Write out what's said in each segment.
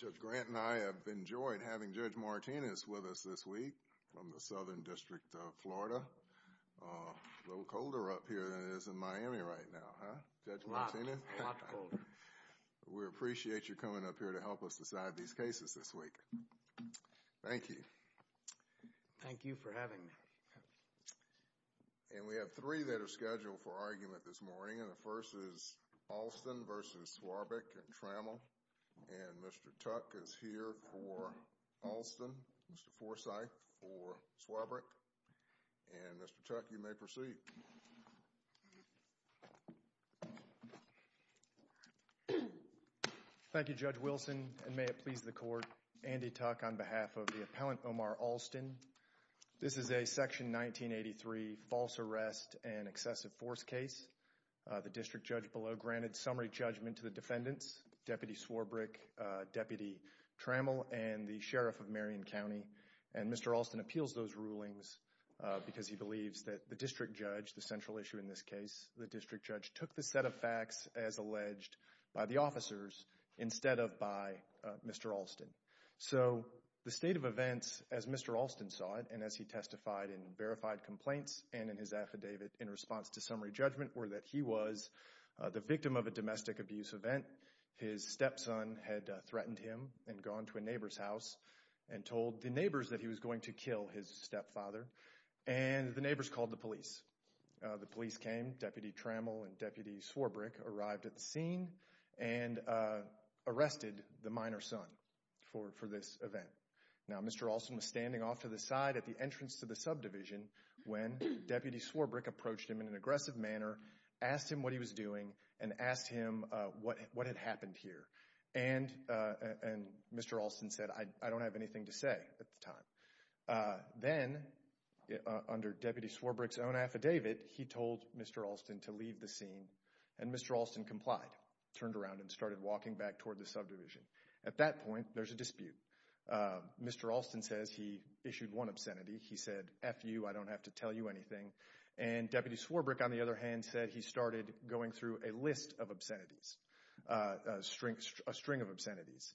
Judge Grant and I have enjoyed having Judge Martinez with us this week from the Southern District of Florida. A little colder up here than it is in Miami right now, huh, Judge Martinez? A lot, a lot colder. We appreciate you coming up here to help us decide these cases this week. Thank you. Thank you for having me. And we have three that are scheduled for argument this morning, and the first is Alston v. Swarbrick and Trammell, and Mr. Tuck is here for Alston, Mr. Forsyth for Swarbrick, and Mr. Tuck, you may proceed. Thank you, Judge Wilson, and may it please the court, Andy Tuck on behalf of the appellant Omar Alston. Mr. Alston, this is a Section 1983 false arrest and excessive force case. The district judge below granted summary judgment to the defendants, Deputy Swarbrick, Deputy Trammell, and the Sheriff of Marion County, and Mr. Alston appeals those rulings because he believes that the district judge, the central issue in this case, the district judge took the set of facts as alleged by the officers instead of by Mr. Alston. So the state of events, as Mr. Alston saw it, and as he testified in verified complaints and in his affidavit in response to summary judgment, were that he was the victim of a domestic abuse event. His stepson had threatened him and gone to a neighbor's house and told the neighbors that he was going to kill his stepfather, and the neighbors called the police. The police came, Deputy Trammell and Deputy Swarbrick arrived at the scene and arrested the minor's son for this event. Now Mr. Alston was standing off to the side at the entrance to the subdivision when Deputy Swarbrick approached him in an aggressive manner, asked him what he was doing, and asked him what had happened here, and Mr. Alston said I don't have anything to say at the time. Then under Deputy Swarbrick's own affidavit, he told Mr. Alston to leave the scene, and At that point, there's a dispute. Mr. Alston says he issued one obscenity. He said F you, I don't have to tell you anything, and Deputy Swarbrick, on the other hand, said he started going through a list of obscenities, a string of obscenities,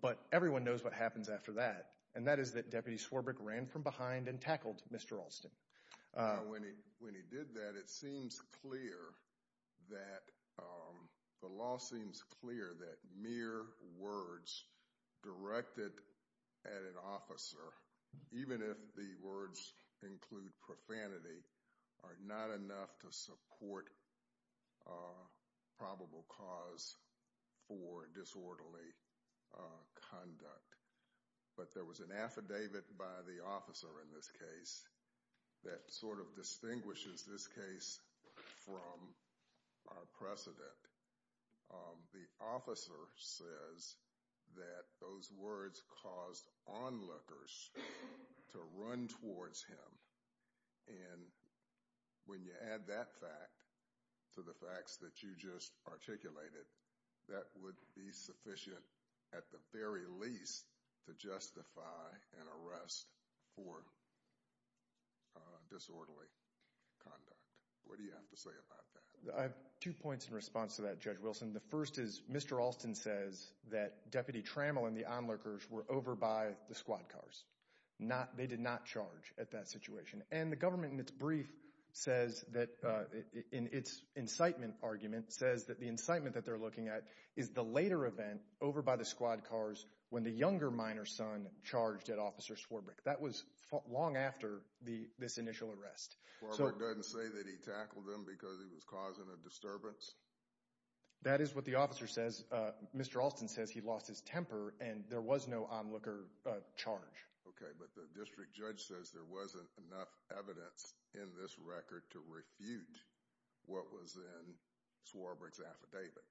but everyone knows what happens after that, and that is that Deputy Swarbrick ran from behind and tackled Mr. Alston. When he did that, it seems clear that the law seems clear that mere words directed at an officer, even if the words include profanity, are not enough to support probable cause for disorderly conduct. But there was an affidavit by the officer in this case that sort of distinguishes this case from our precedent. The officer says that those words caused onlookers to run towards him, and when you add that fact to the facts that you just articulated, that would be sufficient at the very least to justify an arrest for disorderly conduct. What do you have to say about that? I have two points in response to that, Judge Wilson. The first is Mr. Alston says that Deputy Trammell and the onlookers were over by the squad cars. They did not charge at that situation. And the government, in its brief, says that, in its incitement argument, says that the incitement that they're looking at is the later event over by the squad cars when the younger minor son charged at Officer Swarbrick. That was long after this initial arrest. Swarbrick doesn't say that he tackled him because he was causing a disturbance? That is what the officer says. Mr. Alston says he lost his temper and there was no onlooker charge. Okay, but the district judge says there wasn't enough evidence in this record to refute what was in Swarbrick's affidavit.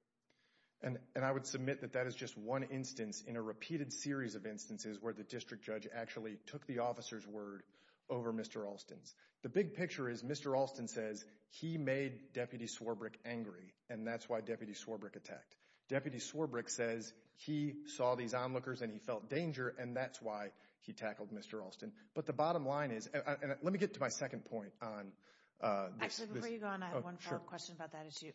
And I would submit that that is just one instance in a repeated series of instances where the district judge actually took the officer's word over Mr. Alston's. The big picture is Mr. Alston says he made Deputy Swarbrick angry, and that's why Deputy Swarbrick attacked. Deputy Swarbrick says he saw these onlookers and he felt danger, and that's why he tackled Mr. Alston. But the bottom line is, and let me get to my second point on this. Actually, before you go on, I have one final question about that issue.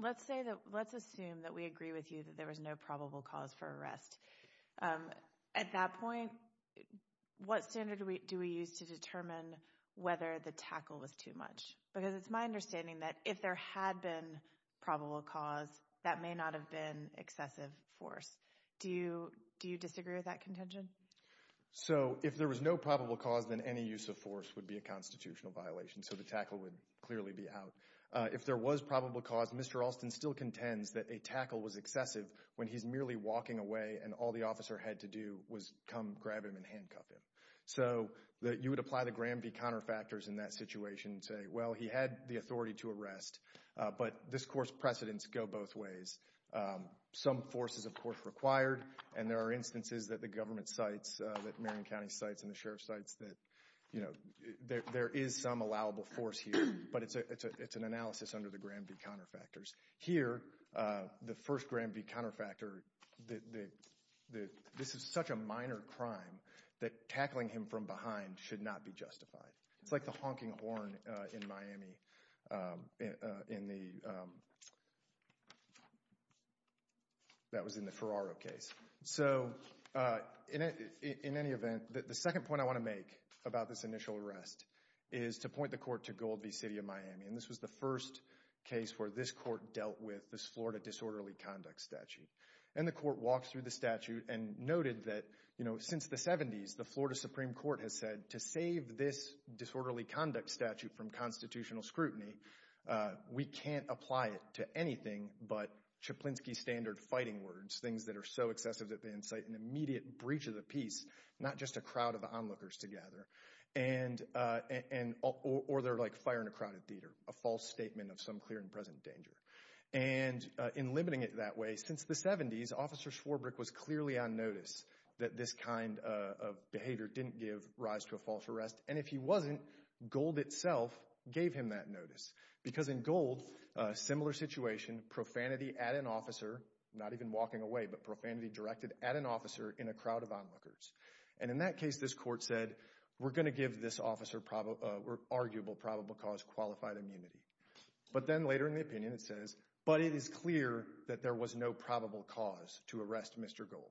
Let's assume that we agree with you that there was no probable cause for arrest. At that point, what standard do we use to determine whether the tackle was too much? Because it's my understanding that if there had been probable cause, that may not have been excessive force. Do you disagree with that contention? So if there was no probable cause, then any use of force would be a constitutional violation. So the tackle would clearly be out. If there was probable cause, Mr. Alston still contends that a tackle was excessive when he's merely walking away and all the officer had to do was come grab him and handcuff him. So you would apply the Graham v. Counterfactors in that situation and say, well, he had the authority to arrest, but this court's precedents go both ways. Some force is, of course, required, and there are instances that the government cites, that Marion County cites and the Sheriff cites that, you know, there is some allowable force here, but it's an analysis under the Graham v. Counterfactors. Here, the first Graham v. Counterfactors, this is such a minor crime that tackling him from behind should not be justified. It's like the honking horn in Miami in the, that was in the Ferraro case. So in any event, the second point I want to make about this initial arrest is to point me, and this was the first case where this court dealt with this Florida disorderly conduct statute. And the court walked through the statute and noted that, you know, since the 70s, the Florida Supreme Court has said to save this disorderly conduct statute from constitutional scrutiny, we can't apply it to anything but Chaplinsky standard fighting words, things that are so excessive that they incite an immediate breach of the peace, not just a crowd of onlookers together, and, or they're like fire in a crowded theater, a false statement of some clear and present danger. And in limiting it that way, since the 70s, Officer Swarbrick was clearly on notice that this kind of behavior didn't give rise to a false arrest, and if he wasn't, Gold itself gave him that notice, because in Gold, a similar situation, profanity at an officer, not even walking away, but profanity directed at an officer in a crowd of onlookers. And in that case, this court said, we're going to give this officer probable, or arguable probable cause qualified immunity. But then later in the opinion, it says, but it is clear that there was no probable cause to arrest Mr. Gold.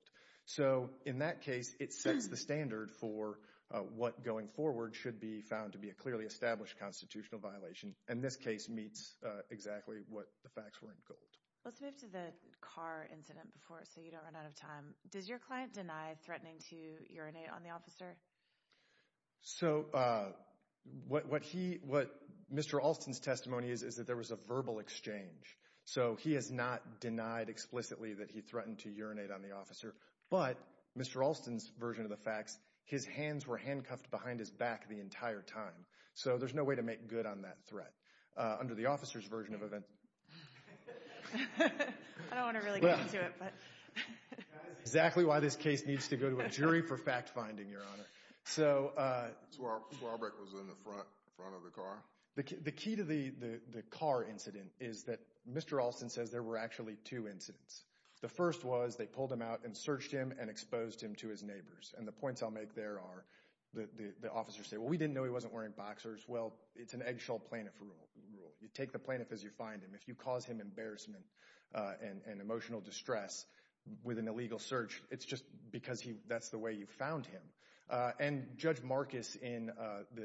So in that case, it sets the standard for what going forward should be found to be a clearly established constitutional violation, and this case meets exactly what the facts were in Gold. Let's move to the car incident before, so you don't run out of time. Does your client deny threatening to urinate on the officer? So what he, what Mr. Alston's testimony is, is that there was a verbal exchange. So he has not denied explicitly that he threatened to urinate on the officer, but Mr. Alston's version of the facts, his hands were handcuffed behind his back the entire time. So there's no way to make good on that threat. Under the officer's version of events. I don't want to really get into it, but. Exactly why this case needs to go to a jury for fact finding, Your Honor. So Swarbrick was in the front of the car? The key to the car incident is that Mr. Alston says there were actually two incidents. The first was, they pulled him out and searched him and exposed him to his neighbors, and the points I'll make there are, the officer said, well, we didn't know he wasn't wearing boxers. Well, it's an eggshell plaintiff rule. You take the plaintiff as you find him. If you cause him embarrassment and emotional distress with an illegal search, it's just because that's the way you found him. And Judge Marcus in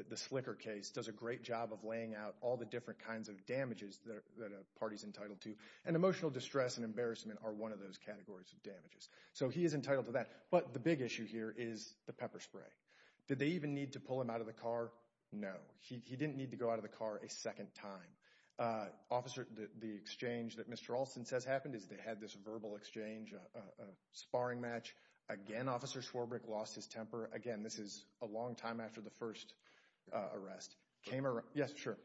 the Slicker case does a great job of laying out all the different kinds of damages that a party's entitled to. And emotional distress and embarrassment are one of those categories of damages. So he is entitled to that. But the big issue here is the pepper spray. Did they even need to pull him out of the car? No. He didn't need to go out of the car a second time. The exchange that Mr. Alston says happened is they had this verbal exchange, a sparring match. Again, Officer Swarbrick lost his temper. Again, this is a long time after the first arrest. Yes, sure.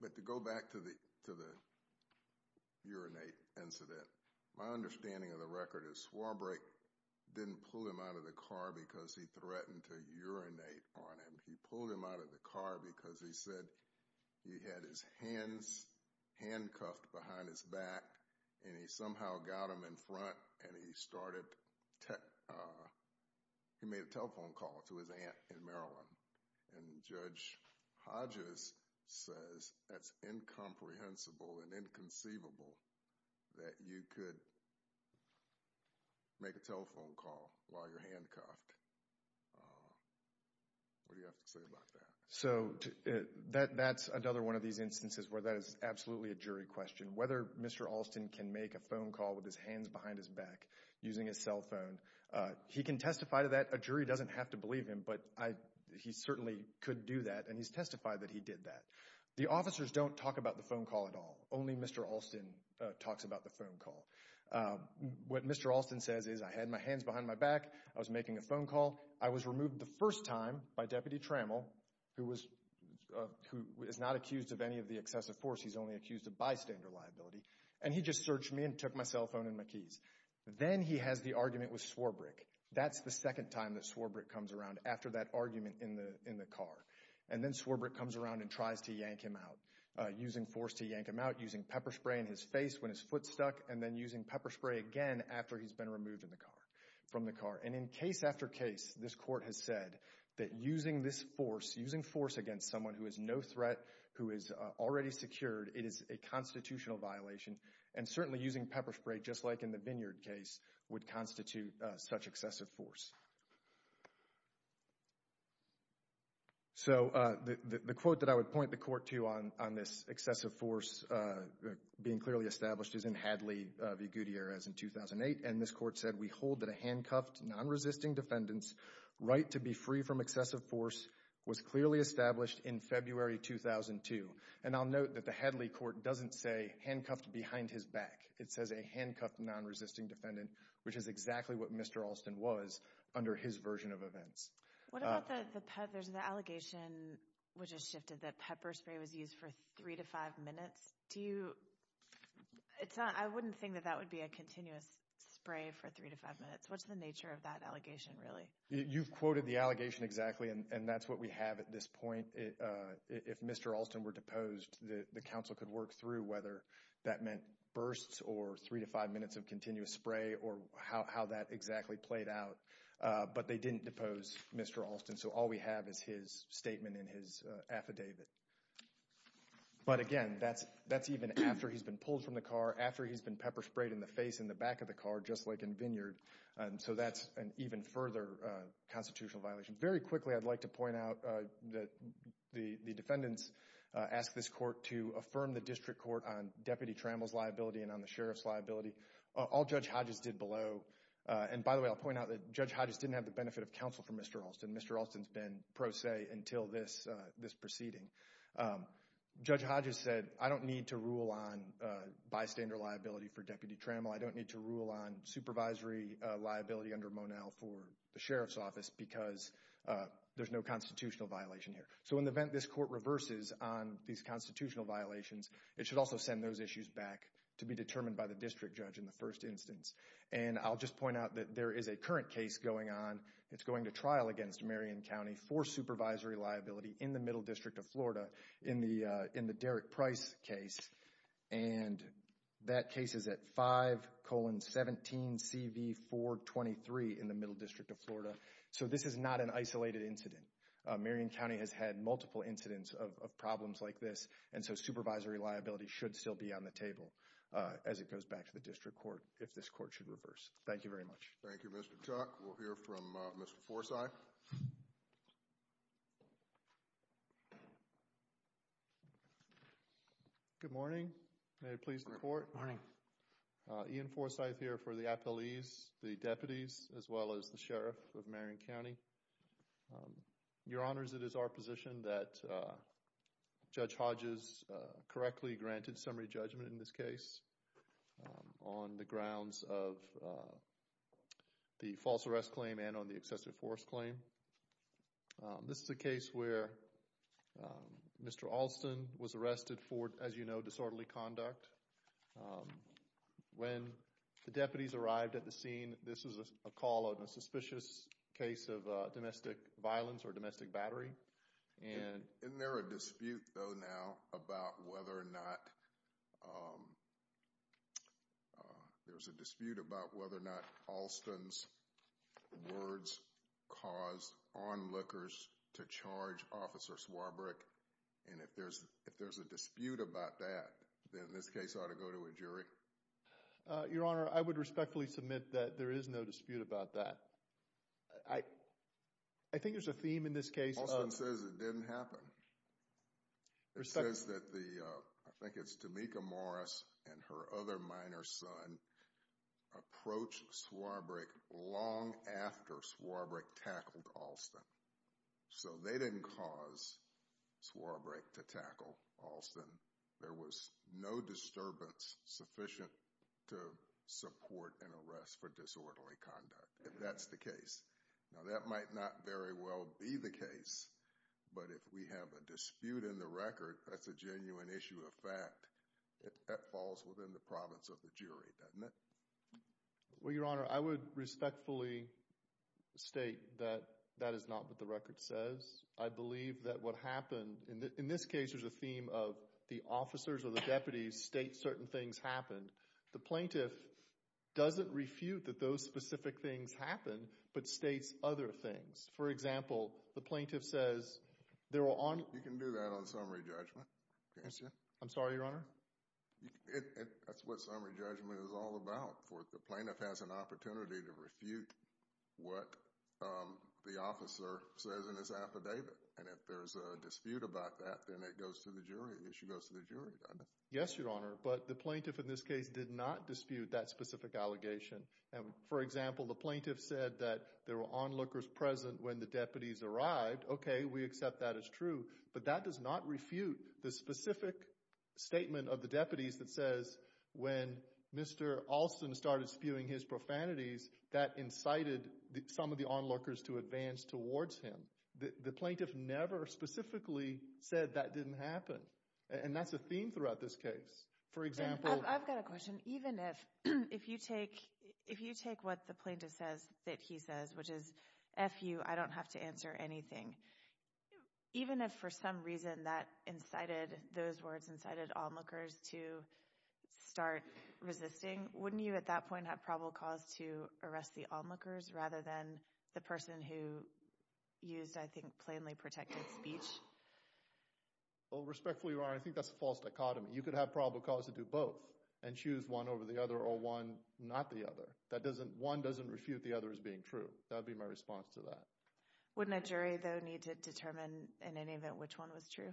But to go back to the urinate incident, my understanding of the record is Swarbrick didn't pull him out of the car because he threatened to urinate on him. He pulled him out of the car because he said he had his hands handcuffed behind his back and he somehow got him in front and he started—he made a telephone call to his aunt in Maryland. And Judge Hodges says that's incomprehensible and inconceivable that you could make a telephone call while you're handcuffed. What do you have to say about that? So that's another one of these instances where that is absolutely a jury question. Whether Mr. Alston can make a phone call with his hands behind his back using his cell phone, he can testify to that. A jury doesn't have to believe him, but he certainly could do that and he's testified that he did that. The officers don't talk about the phone call at all. Only Mr. Alston talks about the phone call. What Mr. Alston says is, I had my hands behind my back, I was making a phone call, I was removed the first time by Deputy Trammell, who is not accused of any of the excessive force, he's only accused of bystander liability, and he just searched me and took my cell phone and my keys. Then he has the argument with Swarbrick. That's the second time that Swarbrick comes around after that argument in the car. And then Swarbrick comes around and tries to yank him out, using force to yank him out, using pepper spray in his face when his foot stuck, and then using pepper spray again after he's been removed from the car. And in case after case, this court has said that using this force, using force against someone who is no threat, who is already secured, it is a constitutional violation. And certainly using pepper spray, just like in the Vineyard case, would constitute such excessive force. So, the quote that I would point the court to on this excessive force being clearly established is in Hadley v. Gutierrez in 2008, and this court said, we hold that a handcuffed, non-resisting defendant's right to be free from excessive force was clearly established in February 2002. And I'll note that the Hadley court doesn't say handcuffed behind his back. It says a handcuffed, non-resisting defendant, which is exactly what Mr. Alston was under his version of events. What about the allegation which has shifted that pepper spray was used for three to five minutes? Do you, it's not, I wouldn't think that that would be a continuous spray for three to five minutes. What's the nature of that allegation, really? You've quoted the allegation exactly, and that's what we have at this point. If Mr. Alston were deposed, the counsel could work through whether that meant bursts or three to five minutes of continuous spray or how that exactly played out. But they didn't depose Mr. Alston, so all we have is his statement and his affidavit. But again, that's even after he's been pulled from the car, after he's been pepper sprayed in the face and the back of the car, just like in Vineyard. So that's an even further constitutional violation. Very quickly, I'd like to point out that the defendants asked this court to affirm the sheriff's liability. All Judge Hodges did below, and by the way, I'll point out that Judge Hodges didn't have the benefit of counsel for Mr. Alston. Mr. Alston's been pro se until this proceeding. Judge Hodges said, I don't need to rule on bystander liability for Deputy Trammell. I don't need to rule on supervisory liability under Monell for the sheriff's office because there's no constitutional violation here. So in the event this court reverses on these constitutional violations, it should also send those issues back to be determined by the district judge in the first instance. And I'll just point out that there is a current case going on. It's going to trial against Marion County for supervisory liability in the Middle District of Florida in the Derek Price case. And that case is at 5-17-CV-4-23 in the Middle District of Florida. So this is not an isolated incident. Marion County has had multiple incidents of problems like this, and so supervisory liability should still be on the table as it goes back to the district court if this court should reverse. Thank you very much. Thank you, Mr. Tuck. We'll hear from Mr. Forsyth. Good morning. May it please the court. Good morning. Ian Forsyth here for the appellees, the deputies, as well as the sheriff of Marion County. Your Honors, it is our position that Judge Hodges correctly granted summary judgment in this case on the grounds of the false arrest claim and on the excessive force claim. This is a case where Mr. Alston was arrested for, as you know, disorderly conduct. When the deputies arrived at the scene, this was a call on a suspicious case of domestic violence or domestic battery. Isn't there a dispute, though, now about whether or not Alston's words caused onlookers to charge Officer Swarbrick? And if there's a dispute about that, then this case ought to go to a jury. Your Honor, I would respectfully submit that there is no dispute about that. I think there's a theme in this case of— Alston says it didn't happen. It says that the, I think it's Tamika Morris and her other minor son approached Swarbrick long after Swarbrick tackled Alston. So, they didn't cause Swarbrick to tackle Alston. There was no disturbance sufficient to support an arrest for disorderly conduct, if that's the case. Now, that might not very well be the case, but if we have a dispute in the record, that's a genuine issue of fact. That falls within the province of the jury, doesn't it? Well, Your Honor, I would respectfully state that that is not what the record says. I believe that what happened—in this case, there's a theme of the officers or the deputies state certain things happened. The plaintiff doesn't refute that those specific things happened, but states other things. For example, the plaintiff says— You can do that on summary judgment, can't you? I'm sorry, Your Honor? That's what summary judgment is all about. The plaintiff has an opportunity to refute what the officer says in his affidavit. And if there's a dispute about that, then it goes to the jury. The issue goes to the jury, doesn't it? Yes, Your Honor, but the plaintiff in this case did not dispute that specific allegation. For example, the plaintiff said that there were onlookers present when the deputies arrived. Okay, we accept that as true, but that does not refute the specific statement of the deputies that says when Mr. Alston started spewing his profanities, that incited some of the onlookers to advance towards him. The plaintiff never specifically said that didn't happen. And that's a theme throughout this case. For example— I've got a question. Even if you take what the plaintiff says that he says, which is, F you, I don't have to answer anything. Even if for some reason that incited—those words incited onlookers to start resisting, wouldn't you at that point have probable cause to arrest the onlookers rather than the person who used, I think, plainly protected speech? Well, respectfully, Your Honor, I think that's a false dichotomy. You could have probable cause to do both and choose one over the other or one not the other. One doesn't refute the other as being true. That would be my response to that. Wouldn't a jury, though, need to determine in any event which one was true?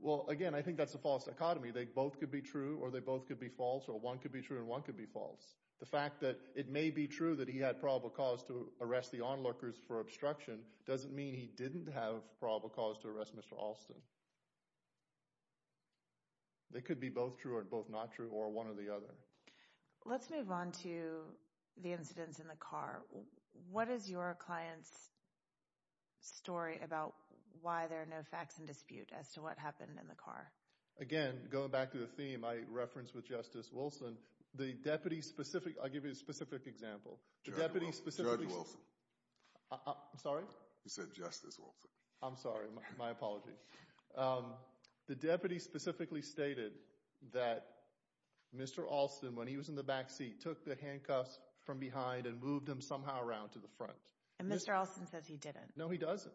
Well, again, I think that's a false dichotomy. They both could be true or they both could be false or one could be true and one could be false. The fact that it may be true that he had probable cause to arrest the onlookers for obstruction doesn't mean he didn't have probable cause to arrest Mr. Alston. They could be both true or both not true or one or the other. Let's move on to the incidents in the car. What is your client's story about why there are no facts in dispute as to what happened in the car? Again, going back to the theme I referenced with Justice Wilson, the deputy's specific— I'll give you a specific example. Judge Wilson. I'm sorry? You said Justice Wilson. I'm sorry. My apology. The deputy specifically stated that Mr. Alston, when he was in the back seat, took the handcuffs from behind and moved them somehow around to the front. And Mr. Alston says he didn't. No, he doesn't.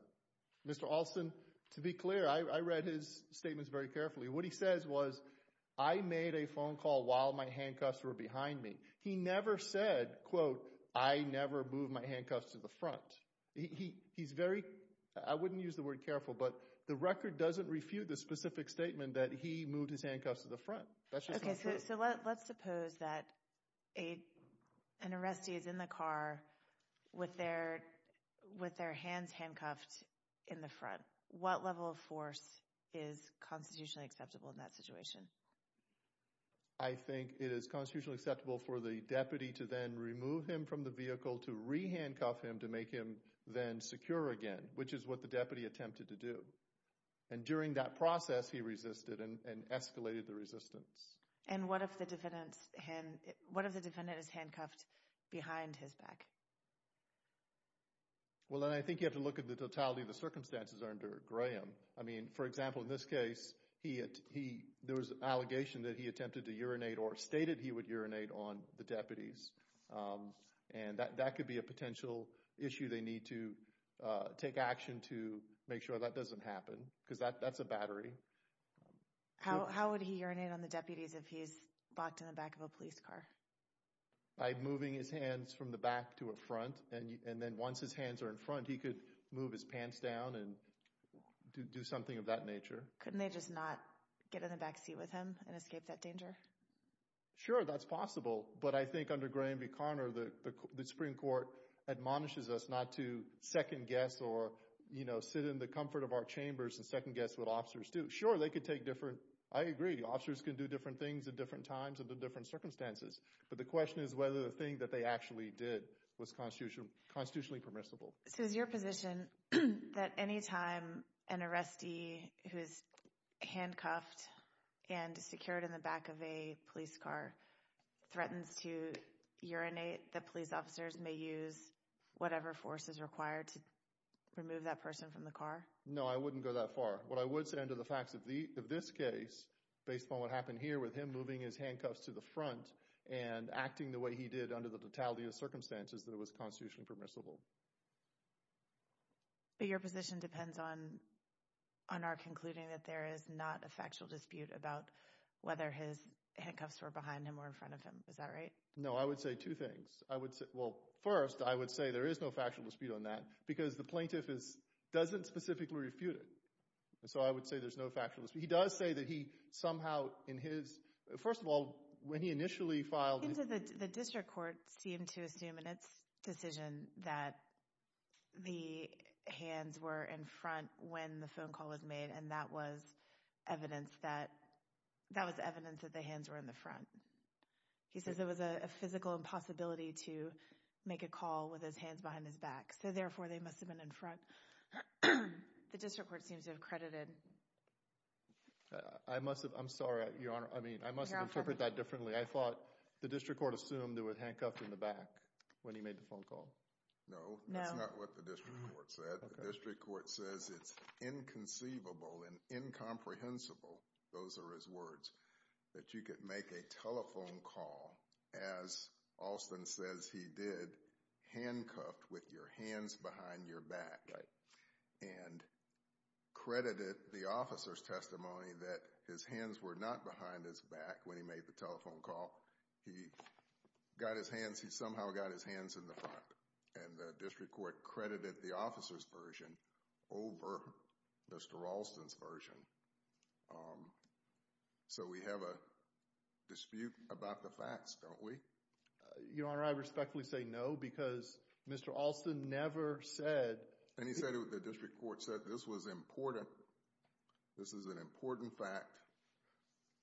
Mr. Alston, to be clear, I read his statements very carefully. What he says was, I made a phone call while my handcuffs were behind me. He never said, quote, I never moved my handcuffs to the front. He's very—I wouldn't use the word careful, but the record doesn't refute the specific statement that he moved his handcuffs to the front. Okay, so let's suppose that an arrestee is in the car with their hands handcuffed in the front. What level of force is constitutionally acceptable in that situation? I think it is constitutionally acceptable for the deputy to then remove him from the vehicle, to re-handcuff him to make him then secure again, which is what the deputy attempted to do. And during that process, he resisted and escalated the resistance. And what if the defendant is handcuffed behind his back? Well, then I think you have to look at the totality of the circumstances under Graham. I mean, for example, in this case, there was an allegation that he attempted to urinate or stated he would urinate on the deputies. And that could be a potential issue they need to take action to make sure that doesn't happen because that's a battery. How would he urinate on the deputies if he's locked in the back of a police car? By moving his hands from the back to the front, and then once his hands are in front, he could move his pants down and do something of that nature. Couldn't they just not get in the back seat with him and escape that danger? Sure, that's possible. But I think under Graham v. Conner, the Supreme Court admonishes us not to second-guess or sit in the comfort of our chambers and second-guess what officers do. Sure, they could take different—I agree, officers can do different things at different times under different circumstances. But the question is whether the thing that they actually did was constitutionally permissible. So is your position that any time an arrestee who is handcuffed and secured in the back of a police car threatens to urinate, the police officers may use whatever force is required to remove that person from the car? No, I wouldn't go that far. What I would say under the facts of this case, based upon what happened here with him moving his handcuffs to the front and acting the way he did under the totality of circumstances, that it was constitutionally permissible. But your position depends on our concluding that there is not a factual dispute about whether his handcuffs were behind him or in front of him. Is that right? No, I would say two things. Well, first, I would say there is no factual dispute on that because the plaintiff doesn't specifically refute it. So I would say there's no factual dispute. He does say that he somehow in his—first of all, when he initially filed— The District Court seemed to assume in its decision that the hands were in front when the phone call was made, and that was evidence that the hands were in the front. He says there was a physical impossibility to make a call with his hands behind his back. So therefore, they must have been in front. The District Court seems to have credited— I must have—I'm sorry, Your Honor. I mean, I must have interpreted that differently. I thought the District Court assumed they were handcuffed in the back when he made the phone call. No, that's not what the District Court said. The District Court says it's inconceivable and incomprehensible—those are his words— that you could make a telephone call, as Alston says he did, handcuffed with your hands behind your back, and credited the officer's testimony that his hands were not behind his back when he made the telephone call. He got his hands—he somehow got his hands in the front, and the District Court credited the officer's version over Mr. Alston's version. So we have a dispute about the facts, don't we? Your Honor, I respectfully say no because Mr. Alston never said— and he said it—the District Court said this was important. This is an important fact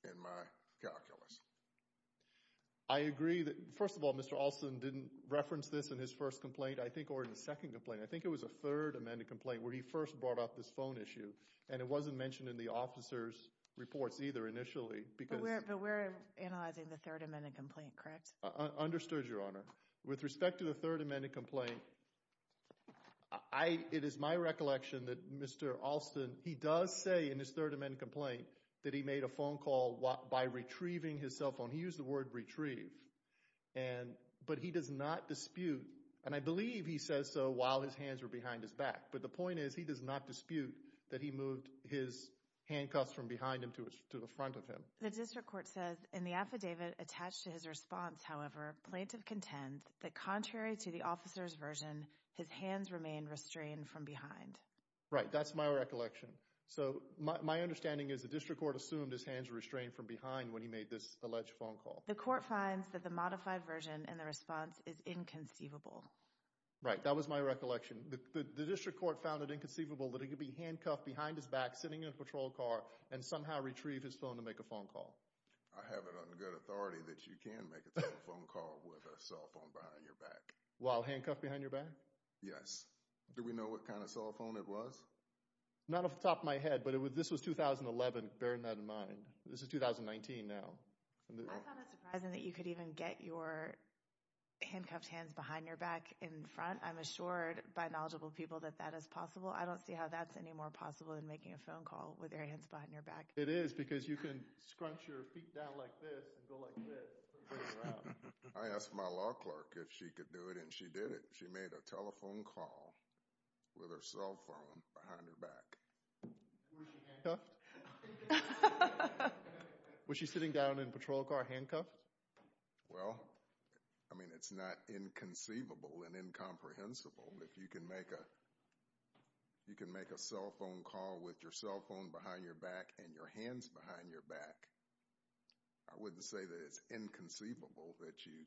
in my calculus. I agree that, first of all, Mr. Alston didn't reference this in his first complaint, I think, or in his second complaint. I think it was a third amended complaint where he first brought up this phone issue, and it wasn't mentioned in the officer's reports either initially because— But we're analyzing the third amended complaint, correct? Understood, Your Honor. With respect to the third amended complaint, it is my recollection that Mr. Alston, he does say in his third amended complaint that he made a phone call by retrieving his cell phone. He used the word retrieve, but he does not dispute, and I believe he says so while his hands were behind his back, but the point is he does not dispute that he moved his handcuffs from behind him to the front of him. The District Court says in the affidavit attached to his response, however, plaintiff contends that contrary to the officer's version, his hands remain restrained from behind. Right, that's my recollection. So my understanding is the District Court assumed his hands were restrained from behind when he made this alleged phone call. The court finds that the modified version in the response is inconceivable. Right, that was my recollection. The District Court found it inconceivable that he could be handcuffed behind his back, sitting in a patrol car, and somehow retrieve his phone to make a phone call. I have it on good authority that you can make a telephone call with a cell phone behind your back. While handcuffed behind your back? Yes. Do we know what kind of cell phone it was? Not off the top of my head, but this was 2011, bearing that in mind. This is 2019 now. I found it surprising that you could even get your handcuffed hands behind your back in front. I'm assured by knowledgeable people that that is possible. I don't see how that's any more possible than making a phone call with your hands behind your back. It is, because you can scrunch your feet down like this and go like this. I asked my law clerk if she could do it, and she did it. She made a telephone call with her cell phone behind her back. Was she handcuffed? Was she sitting down in a patrol car handcuffed? Well, I mean, it's not inconceivable and incomprehensible if you can make a cell phone call with your cell phone behind your back and your hands behind your back. I wouldn't say that it's inconceivable that you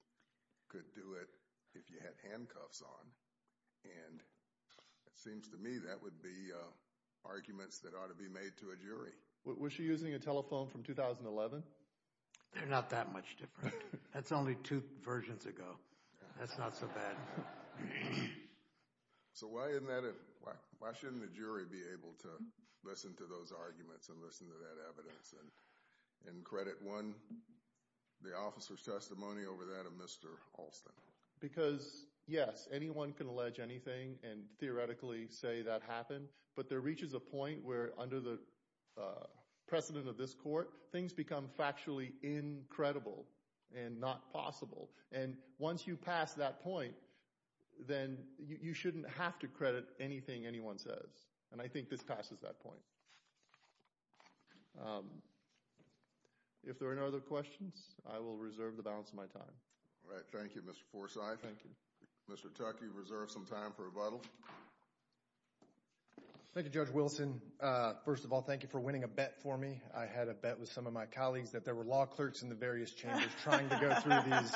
could do it if you had handcuffs on. And it seems to me that would be arguments that ought to be made to a jury. Was she using a telephone from 2011? They're not that much different. That's only two versions ago. That's not so bad. So why shouldn't the jury be able to listen to those arguments and listen to that evidence and credit one, the officer's testimony over that of Mr. Alston? Because, yes, anyone can allege anything and theoretically say that happened, but there reaches a point where under the precedent of this court, things become factually incredible and not possible. And once you pass that point, then you shouldn't have to credit anything anyone says. And I think this passes that point. If there are no other questions, I will reserve the balance of my time. All right. Thank you, Mr. Forsythe. Thank you. Mr. Tuck, you've reserved some time for rebuttal. Thank you, Judge Wilson. First of all, thank you for winning a bet for me. I had a bet with some of my colleagues that there were law clerks in the various chambers trying to go through these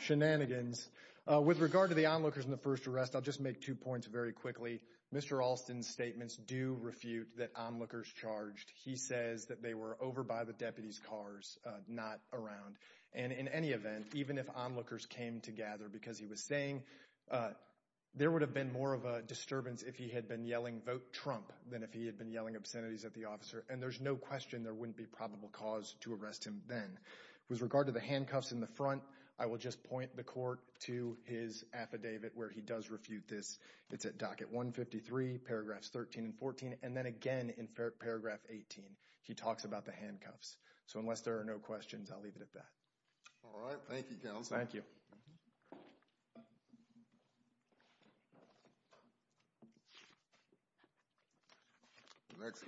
shenanigans. With regard to the onlookers in the first arrest, I'll just make two points very quickly. Mr. Alston's statements do refute that onlookers charged. He says that they were over by the deputies' cars, not around. And in any event, even if onlookers came to gather because he was saying, there would have been more of a disturbance if he had been yelling, vote Trump, than if he had been yelling obscenities at the officer. And there's no question there wouldn't be probable cause to arrest him then. With regard to the handcuffs in the front, I will just point the court to his affidavit where he does refute this. It's at docket 153, paragraphs 13 and 14. And then again in paragraph 18, he talks about the handcuffs. So unless there are no questions, I'll leave it at that. All right. Thank you, counsel. Thank you. Let's go.